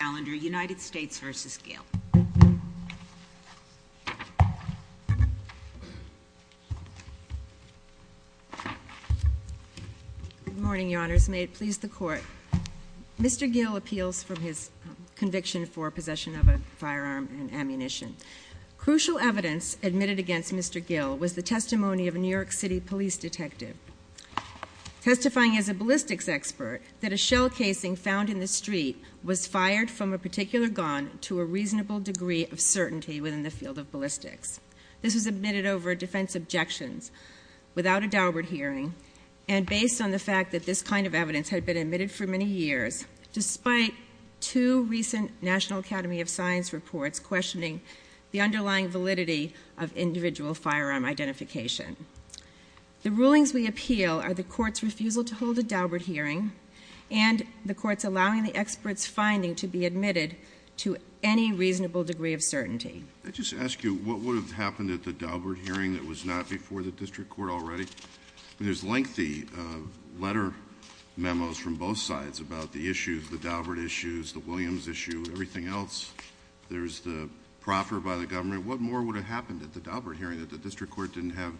Good morning, your honors. May it please the court. Mr. Gill appeals from his conviction for possession of a firearm and ammunition. Crucial evidence admitted against Mr. Gill was the testimony of a New York City police detective testifying as a ballistics expert that a shell casing found in the street was fired from a particular gun to a reasonable degree of certainty within the field of ballistics. This was admitted over defense objections without a Daubert hearing and based on the fact that this kind of evidence had been admitted for many years despite two recent National Academy of Science reports questioning the underlying validity of individual firearm identification. The rulings we appeal are the court's refusal to hold a Daubert hearing and the court's allowing the expert's finding to be admitted to any reasonable degree of certainty. May I just ask you what would have happened at the Daubert hearing that was not before the district court already? There's lengthy letter memos from both sides about the issues, the Daubert issues, the Williams issue, everything else. There's the proffer by the government. What more would have happened at the Daubert hearing that the district court didn't have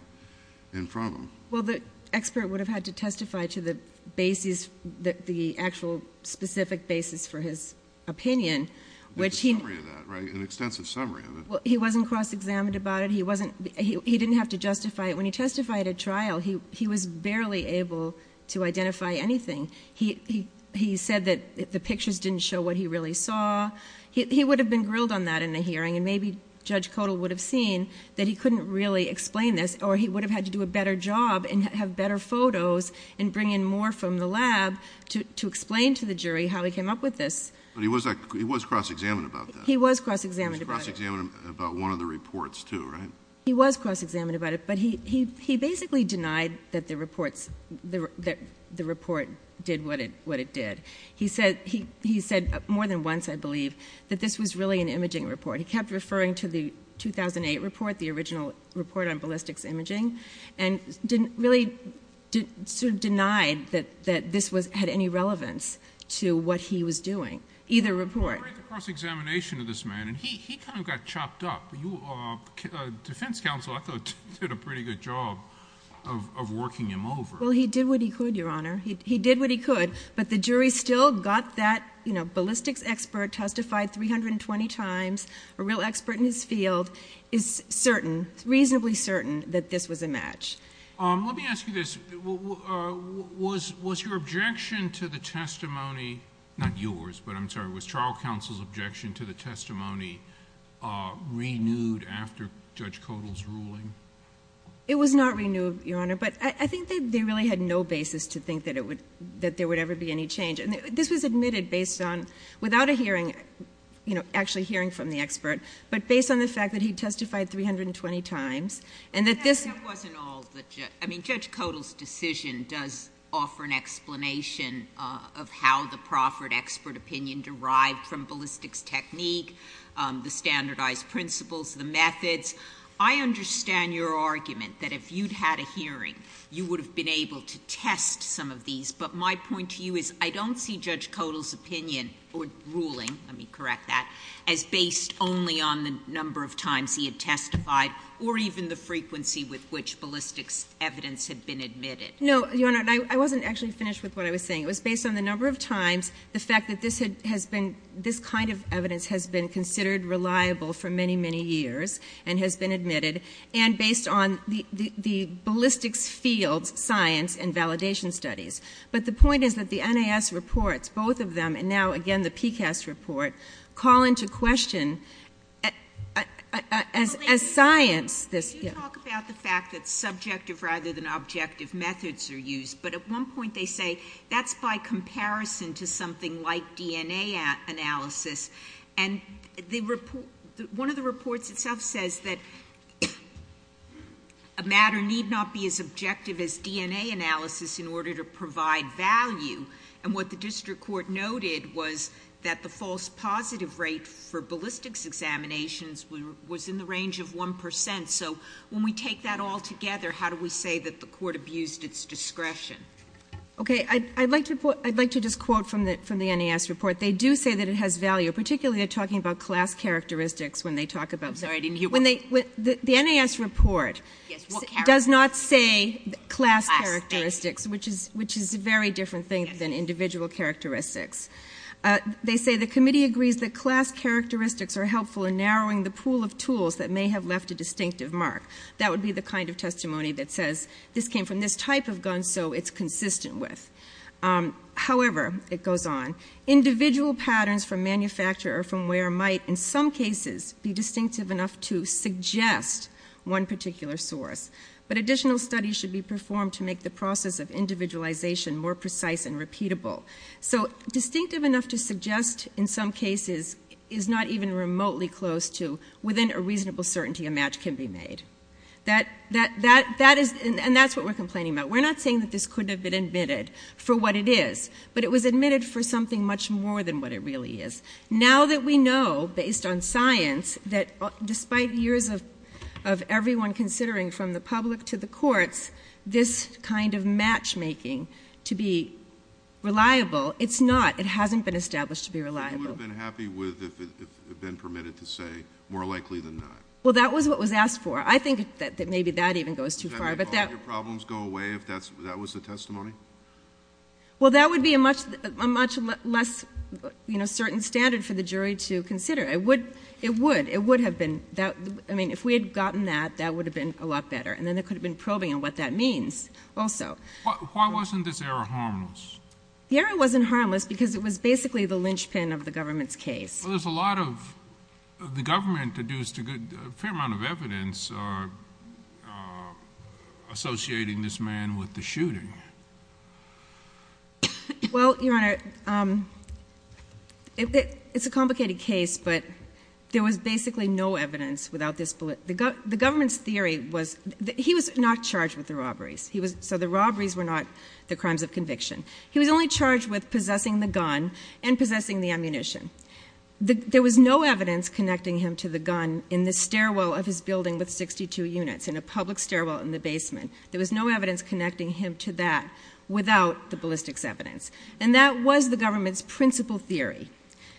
in front of them? Well, the expert would have had to testify to the basis, the actual specific basis for his opinion. There's a summary of that, right? An extensive summary of it. He wasn't cross-examined about it. He didn't have to justify it. When he testified at trial, he was barely able to identify anything. He said that the pictures didn't show what he really saw. He would have been grilled on that in the hearing and maybe Judge Codall would have seen that he couldn't really explain this or he would have had to do a better job and have better photos and bring in more from the lab to explain to the jury how he came up with this. But he was cross-examined about that. He was cross-examined about it. He was cross-examined about one of the reports too, right? He was cross-examined about it, but he basically denied that the report did what it did. He said more than once, I believe, that this was really an imaging report. He kept referring to the 2008 report, the original report on ballistics imaging, and really denied that this had any relevance to what he was doing, either report. But during the cross-examination of this man, he kind of got chopped up. The defense counsel, I thought, did a pretty good job of working him over. Well, he did what he could, Your Honor. He did what he could, but the jury still got that ballistics expert testified 320 times, a real expert in his field, is certain, reasonably certain, that this was a match. Let me ask you this. Was your objection to the testimony, not yours, but I'm sorry, was trial counsel's objection to the testimony renewed after Judge Codall's ruling? It was not renewed, Your Honor, but I think they really had no basis to think that there would ever be any change. This was admitted based on, without a hearing, you know, actually hearing from the expert, but based on the fact that he testified 320 times, and that this... That wasn't all. I mean, Judge Codall's decision does offer an explanation of how the proffered expert opinion derived from ballistics technique, the standardized principles, the methods. I understand your argument that if you'd had a hearing, you would have been able to test some of these, but my point to you is, I don't see Judge Codall's opinion, or ruling, let me correct that, as based only on the number of times he had testified, or even the frequency with which ballistics evidence had been admitted. No, Your Honor, I wasn't actually finished with what I was saying. It was based on the number of times, the fact that this kind of evidence has been considered reliable for many, many years, and has been admitted, and based on the ballistics field's science and validation studies. But the point is that the NIS reports, both of them, and now again the PCAST report, call into question, as science... You talk about the fact that subjective rather than objective methods are used, but at one point they say, that's by comparison to something like DNA analysis, and one of the reports itself says that a matter need not be as objective as DNA analysis in order to provide value, and what the district court noted was that the false positive rate for ballistics examinations was in the range of 1 percent. So when we take that all together, how do we say that the court abused its discretion? Okay. I'd like to just quote from the NIS report. They do say that it has value, particularly when they're talking about class characteristics. The NIS report does not say class characteristics, which is a very different thing than individual characteristics. They say, the committee agrees that class characteristics are helpful in narrowing the pool of tools that may have left a distinctive mark. That would be the kind of testimony that says, this came from this type of gun, so it's consistent with... However, it goes on, individual patterns from manufacture or from where might, in some cases, be distinctive enough to suggest one particular source, but additional studies should be performed to make the process of individualization more precise and repeatable. So distinctive enough to suggest, in some cases, is not even remotely close to, within a reasonable certainty, a match can be made. And that's what we're complaining about. We're not saying that this couldn't have been admitted for what it is, but it was admitted for something much more than what it really is. Now that we know, based on science, that despite years of everyone considering, from the public to the courts, this kind of matchmaking to be reliable, it's not. It hasn't been established to be reliable. But you would have been happy with if it had been permitted to say, more likely than not. Well, that was what was asked for. I think that maybe that even goes too far, but... Well, that would be a much less certain standard for the jury to consider. It would. It would. It would have been... I mean, if we had gotten that, that would have been a lot better, and then there could have been probing on what that means also. Why wasn't this error harmless? The error wasn't harmless because it was basically the linchpin of the government's case. Well, there's a lot of... the government deduced a fair amount of evidence associating this man with the shooting. Well, Your Honor, it's a complicated case, but there was basically no evidence without this... the government's theory was... he was not charged with the robberies. So the robberies were not the crimes of conviction. He was only charged with possessing the gun and possessing the ammunition. There was no evidence connecting him to the gun in the stairwell of his building with 62 units, in a public stairwell in the basement. There was no evidence connecting him to that without the ballistics evidence. And that was the government's principal theory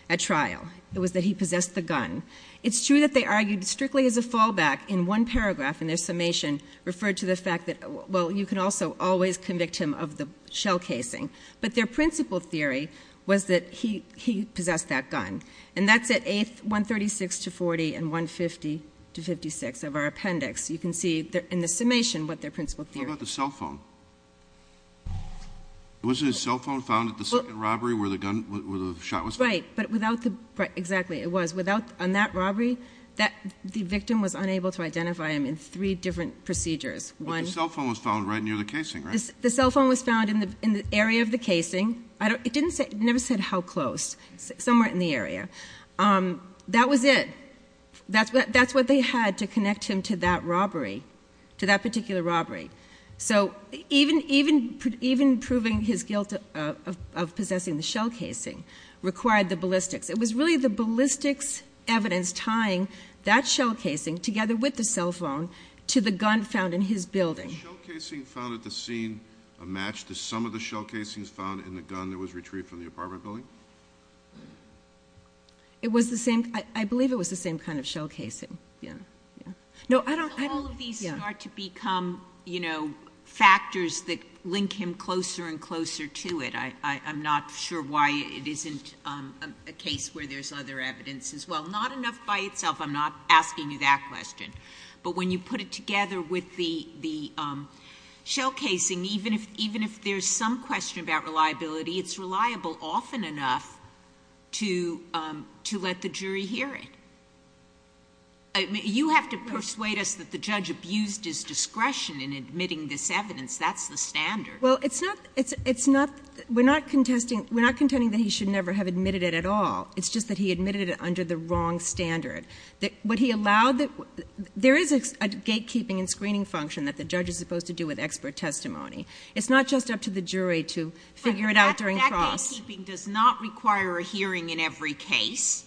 at trial. It was that he possessed the gun. It's true that they argued strictly as a fallback in one paragraph in their summation referred to the fact that... well, you can also always convict him of the shell casing, but their principal theory was that he possessed that gun. And that's at 136 to 40 and 150 to 56 of our appendix. You can see in the summation what their principal theory... What about the cell phone? Was his cell phone found at the second robbery where the gun... where the shot was found? Right. But without the... exactly. It was. Without... on that robbery, the victim was unable to identify him in three different procedures. One... But the cell phone was found right near the casing, right? The cell phone was found in the area of the casing. It didn't say... it never said how close. Somewhere in the area. That was it. That's what they had to connect him to that robbery, to that particular robbery. So even proving his guilt of possessing the shell casing required the ballistics. It was really the ballistics evidence tying that shell casing together with the cell phone to the gun found in his building. Was the shell casing found at the scene a match to some of the shell casings found in the gun that was retrieved from the apartment building? It was the same... I believe it was the same kind of shell casing. Yeah. Yeah. No, I don't... When all of these start to become, you know, factors that link him closer and closer to it, I'm not sure why it isn't a case where there's other evidence as well. Not enough by itself. I'm not asking you that question. But when you put it together with the shell casing, there's no question about reliability. It's reliable often enough to let the jury hear it. You have to persuade us that the judge abused his discretion in admitting this evidence. That's the standard. Well, it's not... we're not contesting... we're not contending that he should never have admitted it at all. It's just that he admitted it under the wrong standard. What he allowed... there is a gatekeeping and screening function that the judge is supposed to do with expert testimony. It's not just up to the jury to figure it out during cross... But that gatekeeping does not require a hearing in every case.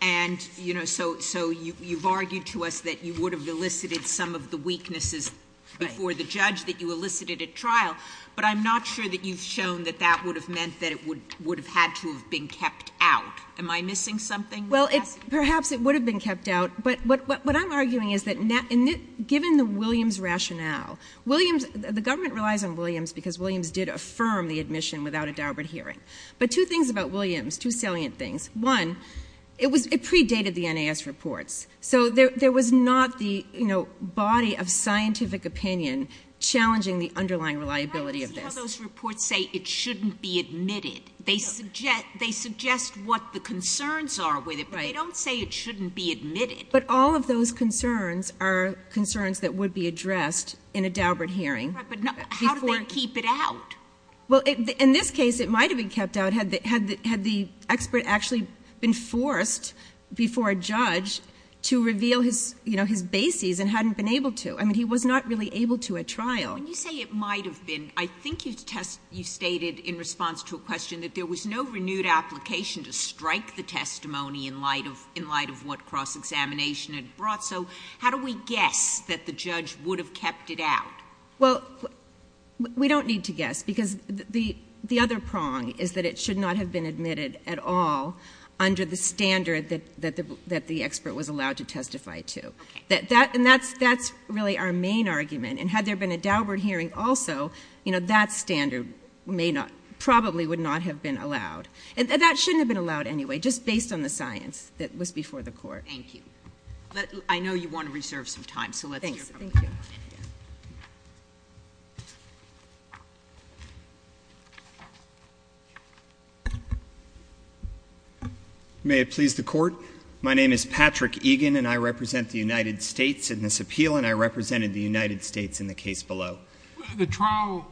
And, you know, so you've argued to us that you would have elicited some of the weaknesses before the judge that you elicited at trial. But I'm not sure that you've shown that that would have meant that it would have had to have been kept out. Am I missing something? Well, perhaps it would have been kept out. But what I'm arguing is that given the Williams rationale, Williams... the government relies on Williams because Williams did affirm the admission without a Daubert hearing. But two things about Williams... two salient things. One, it was... it predated the NAS reports. So there was not the, you know, body of scientific opinion challenging the underlying reliability of this. But that's how those reports say it shouldn't be admitted. They suggest what the concerns are with it, but they don't say it shouldn't be admitted. But all of those concerns are concerns that would be addressed in a Daubert hearing. Right. But how did they keep it out? Well, in this case, it might have been kept out had the expert actually been forced before a judge to reveal his, you know, his bases and hadn't been able to. I mean, he was not really able to at trial. When you say it might have been, I think you've stated in response to a question that there was no renewed application to strike the testimony in light of what cross-examination had brought. So how do we guess that the judge would have kept it out? Well, we don't need to guess, because the other prong is that it should not have been admitted at all under the standard that the expert was allowed to testify to. Okay. And that's really our main argument. And had there been a Daubert hearing also, you know, that standard may not... probably would not have been allowed. And that shouldn't have been allowed anyway, just based on the science that was before the Court. Thank you. I know you want to reserve some time, so let's hear from the Court. Thanks. Thank you. May it please the Court? My name is Patrick Egan, and I represent the United States in this appeal, and I represented the United States in the case below. The trial...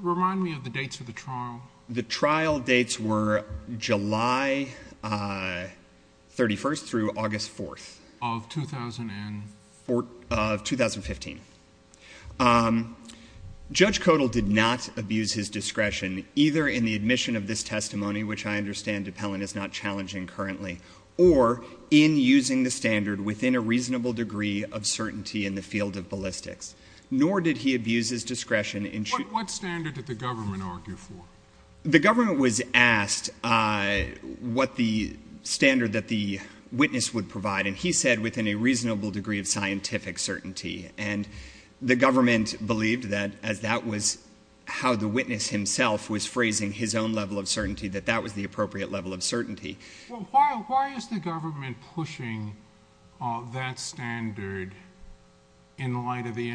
remind me of the dates of the trial. The trial dates were July 31st through August 4th... Of 2000 and...... of 2015. Judge Codall did not abuse his discretion, either in the admission of this testimony, which I understand appellant is not challenging currently, or in using the standard within a reasonable degree of certainty in the field of ballistics. Nor did he abuse his discretion in... What standard did the government argue for? The government was asked what the standard that the witness would provide, and he said, within a reasonable degree of scientific certainty. And the government believed that, as that was how the witness himself was phrasing his own level of certainty, that that was the appropriate level of certainty. Well, why... why is the government pushing that standard in light of the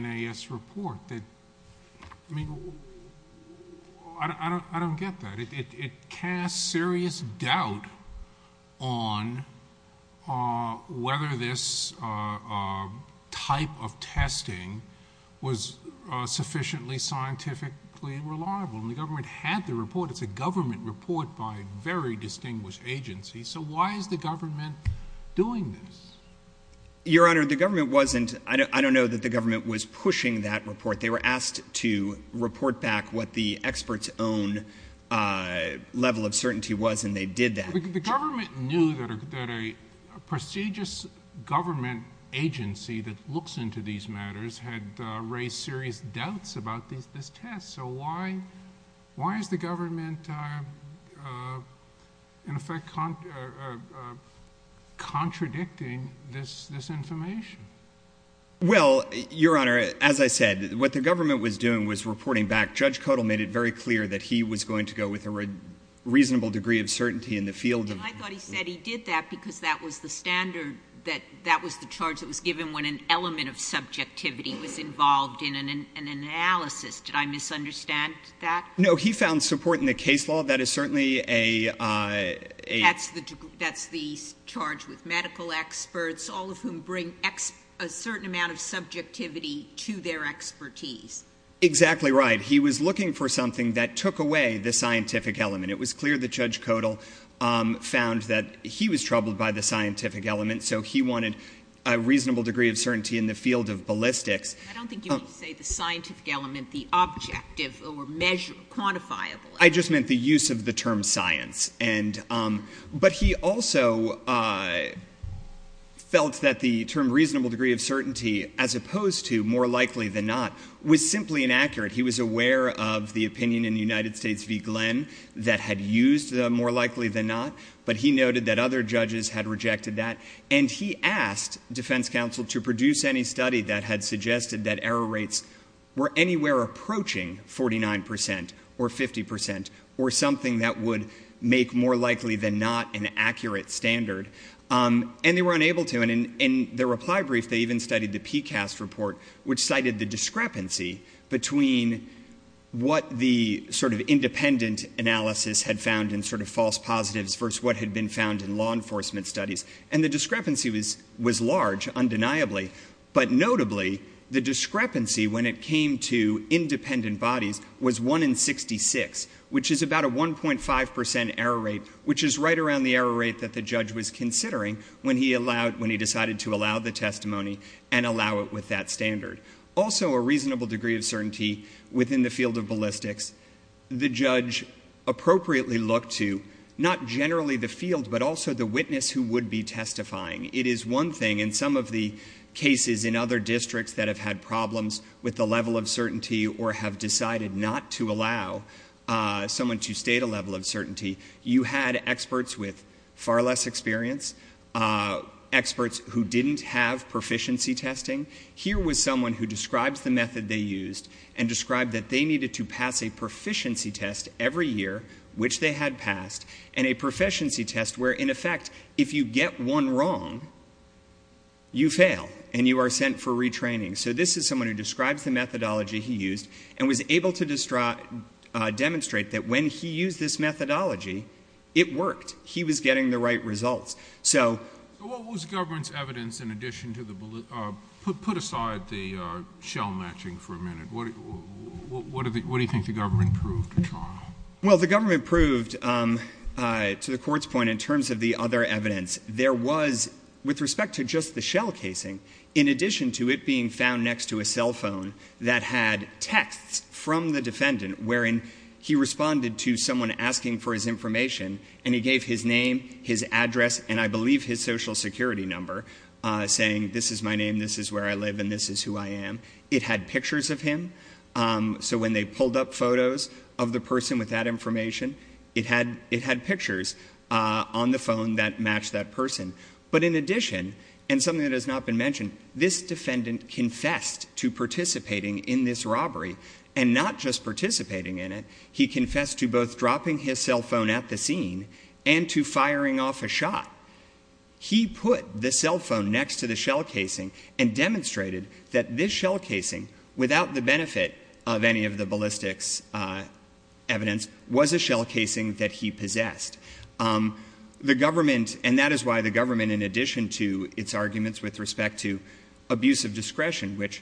I don't get that. It casts serious doubt on whether this type of testing was sufficiently scientifically reliable. And the government had the report. It's a government report by very distinguished agencies. So why is the government doing this? Your Honor, the government wasn't... I don't know that the government was sure what the appropriate level of certainty was, and they did that. The government knew that a prestigious government agency that looks into these matters had raised serious doubts about this test. So why... why is the government, in effect, contradicting this information? Well, Your Honor, as I said, what the government was doing was reporting back. Judge Kotel made it very clear that he was going to go with a reasonable degree of certainty in the field of... And I thought he said he did that because that was the standard that... that was the charge that was given when an element of subjectivity was involved in an analysis. Did I misunderstand that? No. He found support in the case law. That is certainly a... That's the charge with medical experts, all of whom bring a certain amount of subjectivity to their expertise. Exactly right. He was looking for something that took away the scientific element. It was clear that Judge Kotel found that he was troubled by the scientific element, so he wanted a reasonable degree of certainty in the field of ballistics. I don't think you meant to say the scientific element, the objective or measurable, quantifiable element. I just meant the use of the term science. And... But he also felt that the term was simply inaccurate. He was aware of the opinion in the United States v. Glenn that had used the more likely than not, but he noted that other judges had rejected that. And he asked defense counsel to produce any study that had suggested that error rates were anywhere approaching 49 percent or 50 percent or something that would make more likely than not an accurate standard. And they were unable to. And in their reply brief, they even studied the PCAST report, which cited the discrepancy between what the sort of independent analysis had found in sort of false positives versus what had been found in law enforcement studies. And the discrepancy was large, undeniably. But notably, the discrepancy when it came to independent bodies was 1 in 66, which is about a 1.5 percent error rate, which is right around the error rate that the judge was considering when he decided to allow the testimony and allow it with that standard. Also a reasonable degree of certainty within the field of ballistics. The judge appropriately looked to not generally the field, but also the witness who would be testifying. It is one thing in some of the cases in other districts that have had problems with the level of certainty or have decided not to allow someone to participate. So, we have a case where the judge is a person with far less experience, experts who didn't have proficiency testing. Here was someone who describes the method they used and described that they needed to pass a proficiency test every year, which they had passed, and a proficiency test where in effect, if you get one wrong, you fail and you are sent for retraining. So, this is someone who describes the methodology he used and was able to get the right results. So, What was the government's evidence in addition to the — put aside the shell matching for a minute. What do you think the government proved at trial? Well, the government proved, to the Court's point, in terms of the other evidence, there was, with respect to just the shell casing, in addition to it being found next to a cell phone that had texts from the defendant wherein he responded to someone asking for his information and he gave his name, his address, and I believe his social security number, saying this is my name, this is where I live, and this is who I am. It had pictures of him. So, when they pulled up photos of the person with that information, it had pictures on the phone that matched that person. But in addition, and something that has not been mentioned, this defendant confessed to participating in this robbery and not just participating in it, he confessed to both dropping his cell phone at the scene and to firing off a shot. He put the cell phone next to the shell casing and demonstrated that this shell casing, without the benefit of any of the ballistics evidence, was a shell casing that he possessed. The government, and that is why the government, in addition to its arguments with respect to abuse of discretion, which,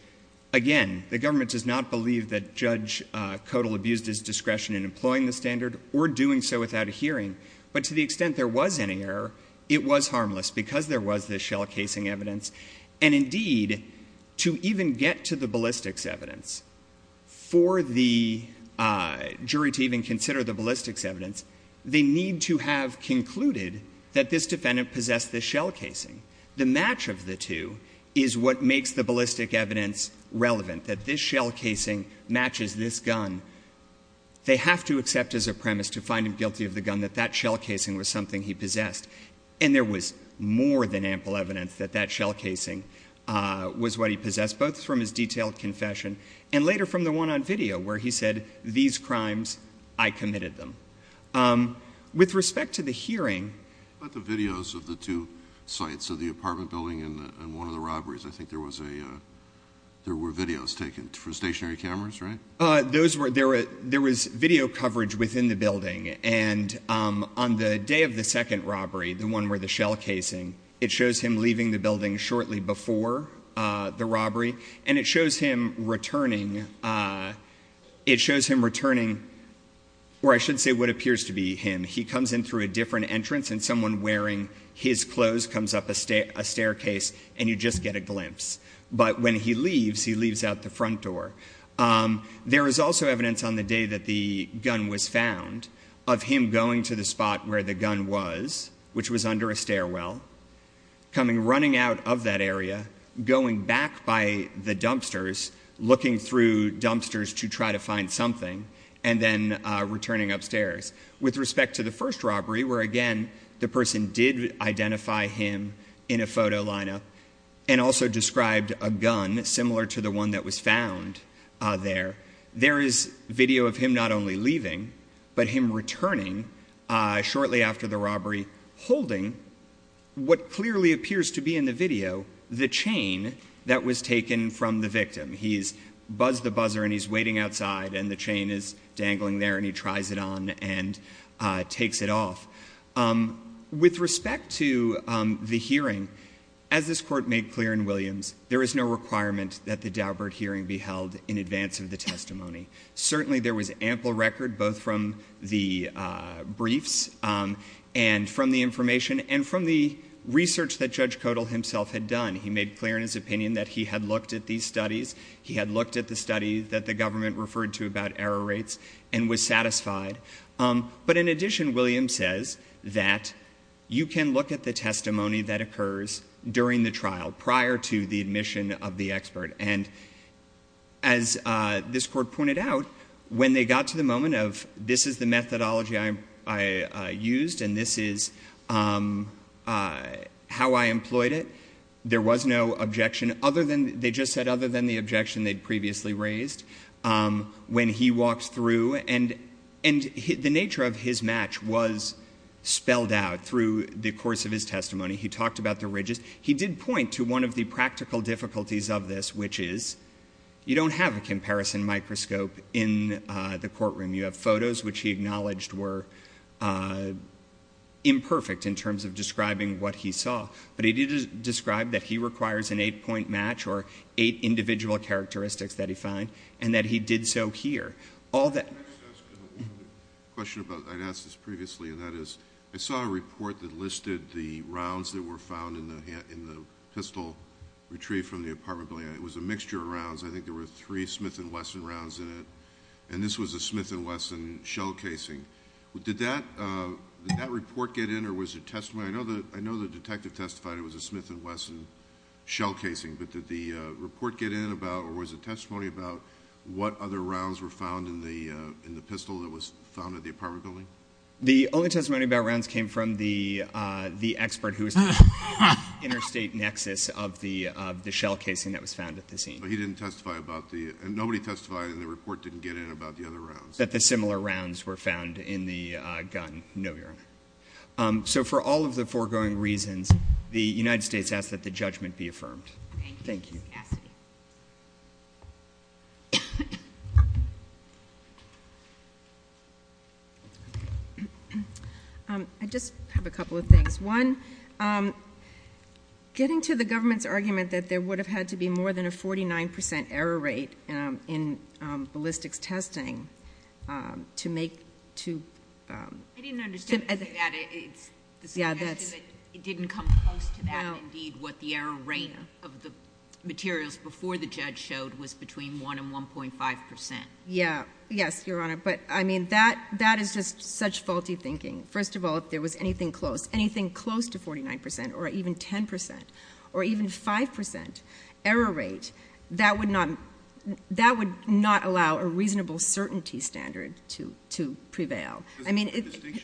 again, the government does not believe that Judge Codal abused his discretion in employing the standard or doing so without a hearing, but to the extent there was any error, it was harmless because there was this shell casing evidence. And indeed, to even get to the ballistics evidence, for the jury to even consider the ballistics evidence, they need to have concluded that this defendant possessed this shell casing. The match of the two is what makes the ballistics evidence relevant, that this shell casing matches this gun. They have to accept as a premise to find him guilty of the gun that that shell casing was something he possessed. And there was more than ample evidence that that shell casing was what he possessed, both from his detailed confession and later from the one on video where he said, these crimes, I committed them. With respect to the hearing ---- I think there was a, there were videos taken for stationary cameras, right? Those were, there was video coverage within the building. And on the day of the second robbery, the one where the shell casing, it shows him leaving the building shortly before the robbery. And it shows him returning, it shows him returning, or I should say what appears to be him. He comes in through a different entrance and someone wearing his clothes comes up a staircase and you just get a glimpse. But when he leaves, he leaves out the front door. There is also evidence on the day that the gun was found of him going to the spot where the gun was, which was under a stairwell, coming, running out of that area, going back by the dumpsters, looking through dumpsters to try to find something, and then returning upstairs. With respect to the first robbery, where again, the person did identify him in a photo lineup and also described a gun similar to the one that was found there, there is video of him not only leaving, but him returning shortly after the robbery, holding what clearly appears to be in the video, the chain that was dangling there, and he tries it on and takes it off. With respect to the hearing, as this Court made clear in Williams, there is no requirement that the Daubert hearing be held in advance of the testimony. Certainly there was ample record, both from the briefs and from the information and from the research that Judge Codall himself had done. He made clear in his opinion that he had looked at these studies. He had looked at the studies that the government referred to about error rates and was satisfied. But in addition, Williams says that you can look at the testimony that occurs during the trial prior to the admission of the expert. And as this Court pointed out, when they got to the moment of, this is the methodology I used and this is how I employed it, there was no objection other than, they just said other than the objection they'd previously raised when he walked through. And the nature of his match was spelled out through the course of his testimony. He talked about the ridges. He did point to one of the practical difficulties of this, which is you don't have a comparison microscope in the courtroom. You have photos which he acknowledged were imperfect in terms of describing what he saw. But he did describe that he requires an eight-point match or eight individual characteristics that he found and that he did so here. All that... I'd like to ask a question about, I'd asked this previously, and that is, I saw a report that listed the rounds that were found in the pistol retrieved from the apartment building. It was a mixture of rounds. I think there were three Smith & Wesson rounds in it. And this was a Smith & Wesson shell casing. Did that report get in or was it testimony? I know the detective testified it was a Smith & Wesson shell casing, but did the report get in about or was it testimony about what other rounds were found in the pistol that was found at the apartment building? The only testimony about rounds came from the expert who was in the interstate nexus of the shell casing that was found at the scene. But he didn't testify about the... and nobody testified and the report didn't get in about the other rounds? That the similar rounds were found in the gun. No, Your Honor. So for all of the foregoing reasons, the United States asks that the judgment be affirmed. Thank you. Ms. Cassidy. I just have a couple of things. One, getting to the government's argument that there would be an error rate to make... I didn't understand you say that. It's the suggestion that it didn't come close to that and indeed what the error rate of the materials before the judge showed was between 1 and 1.5 percent. Yes, Your Honor. But that is just such faulty thinking. First of all, if there was anything close to 49 percent or even 10 percent or even 5 percent error rate, that would not allow a reasonable certainty standard to prevail. I mean,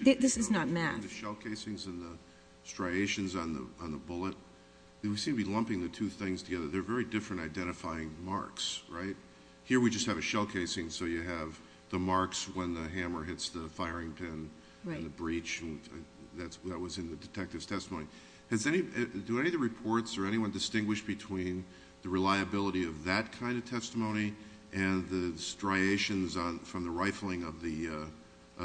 this is not math. The shell casings and the striations on the bullet, we seem to be lumping the two things together. They're very different identifying marks, right? Here we just have a shell casing so you have the marks when the hammer hits the firing pin and the breach. That was in the detective's testimony. Do any of the reports or anyone distinguish between the reliability of that kind of testimony and the striations from the rifling of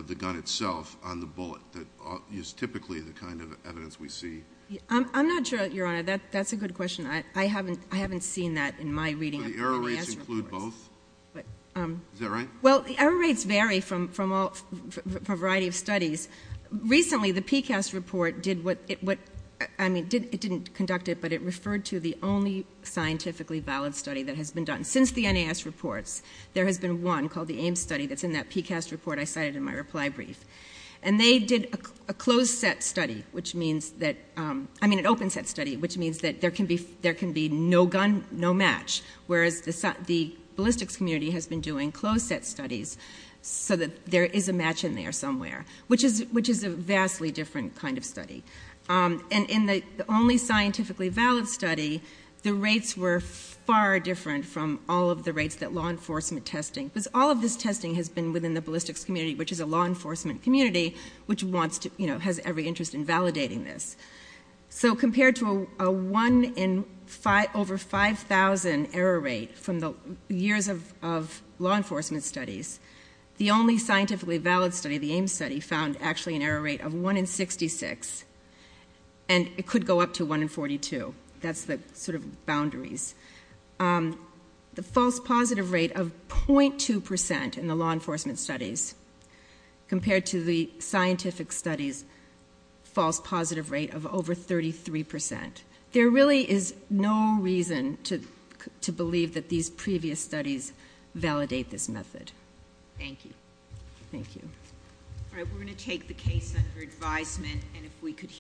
the gun itself on the bullet that is typically the kind of evidence we see? I'm not sure, Your Honor. That's a good question. I haven't seen that in my reading of the PCAST reports. Do the error rates include both? Is that right? Well, the error rates vary from a variety of studies. Recently, the PCAST report did what, I mean, it didn't conduct it, but it referred to the only scientifically valid study that has been done. Since the NAS reports, there has been one called the AIM study that's in that PCAST report I cited in my reply brief. And they did a closed set study, which means that, I mean, an open set study, which means that there can be no gun, no match, whereas the ballistics community has been doing closed set studies so that there is a match in there somewhere, which is a vastly different kind of study. And in the only scientifically valid study, the rates were far different from all of the rates that law enforcement testing, because all of this testing has been within the ballistics community, which is a law enforcement community, which wants to, you know, has every interest in validating this. So compared to a one in over 5,000 error rate from the years of law enforcement studies, the only scientifically valid study, the AIM study, found actually an error rate of one in 66, and it could go up to one in 42. That's the sort of boundaries. The false positive rate of 0.2% in the law enforcement studies compared to the scientific studies false positive rate of over 33%. There really is no reason to believe that these previous studies validate this method. Thank you.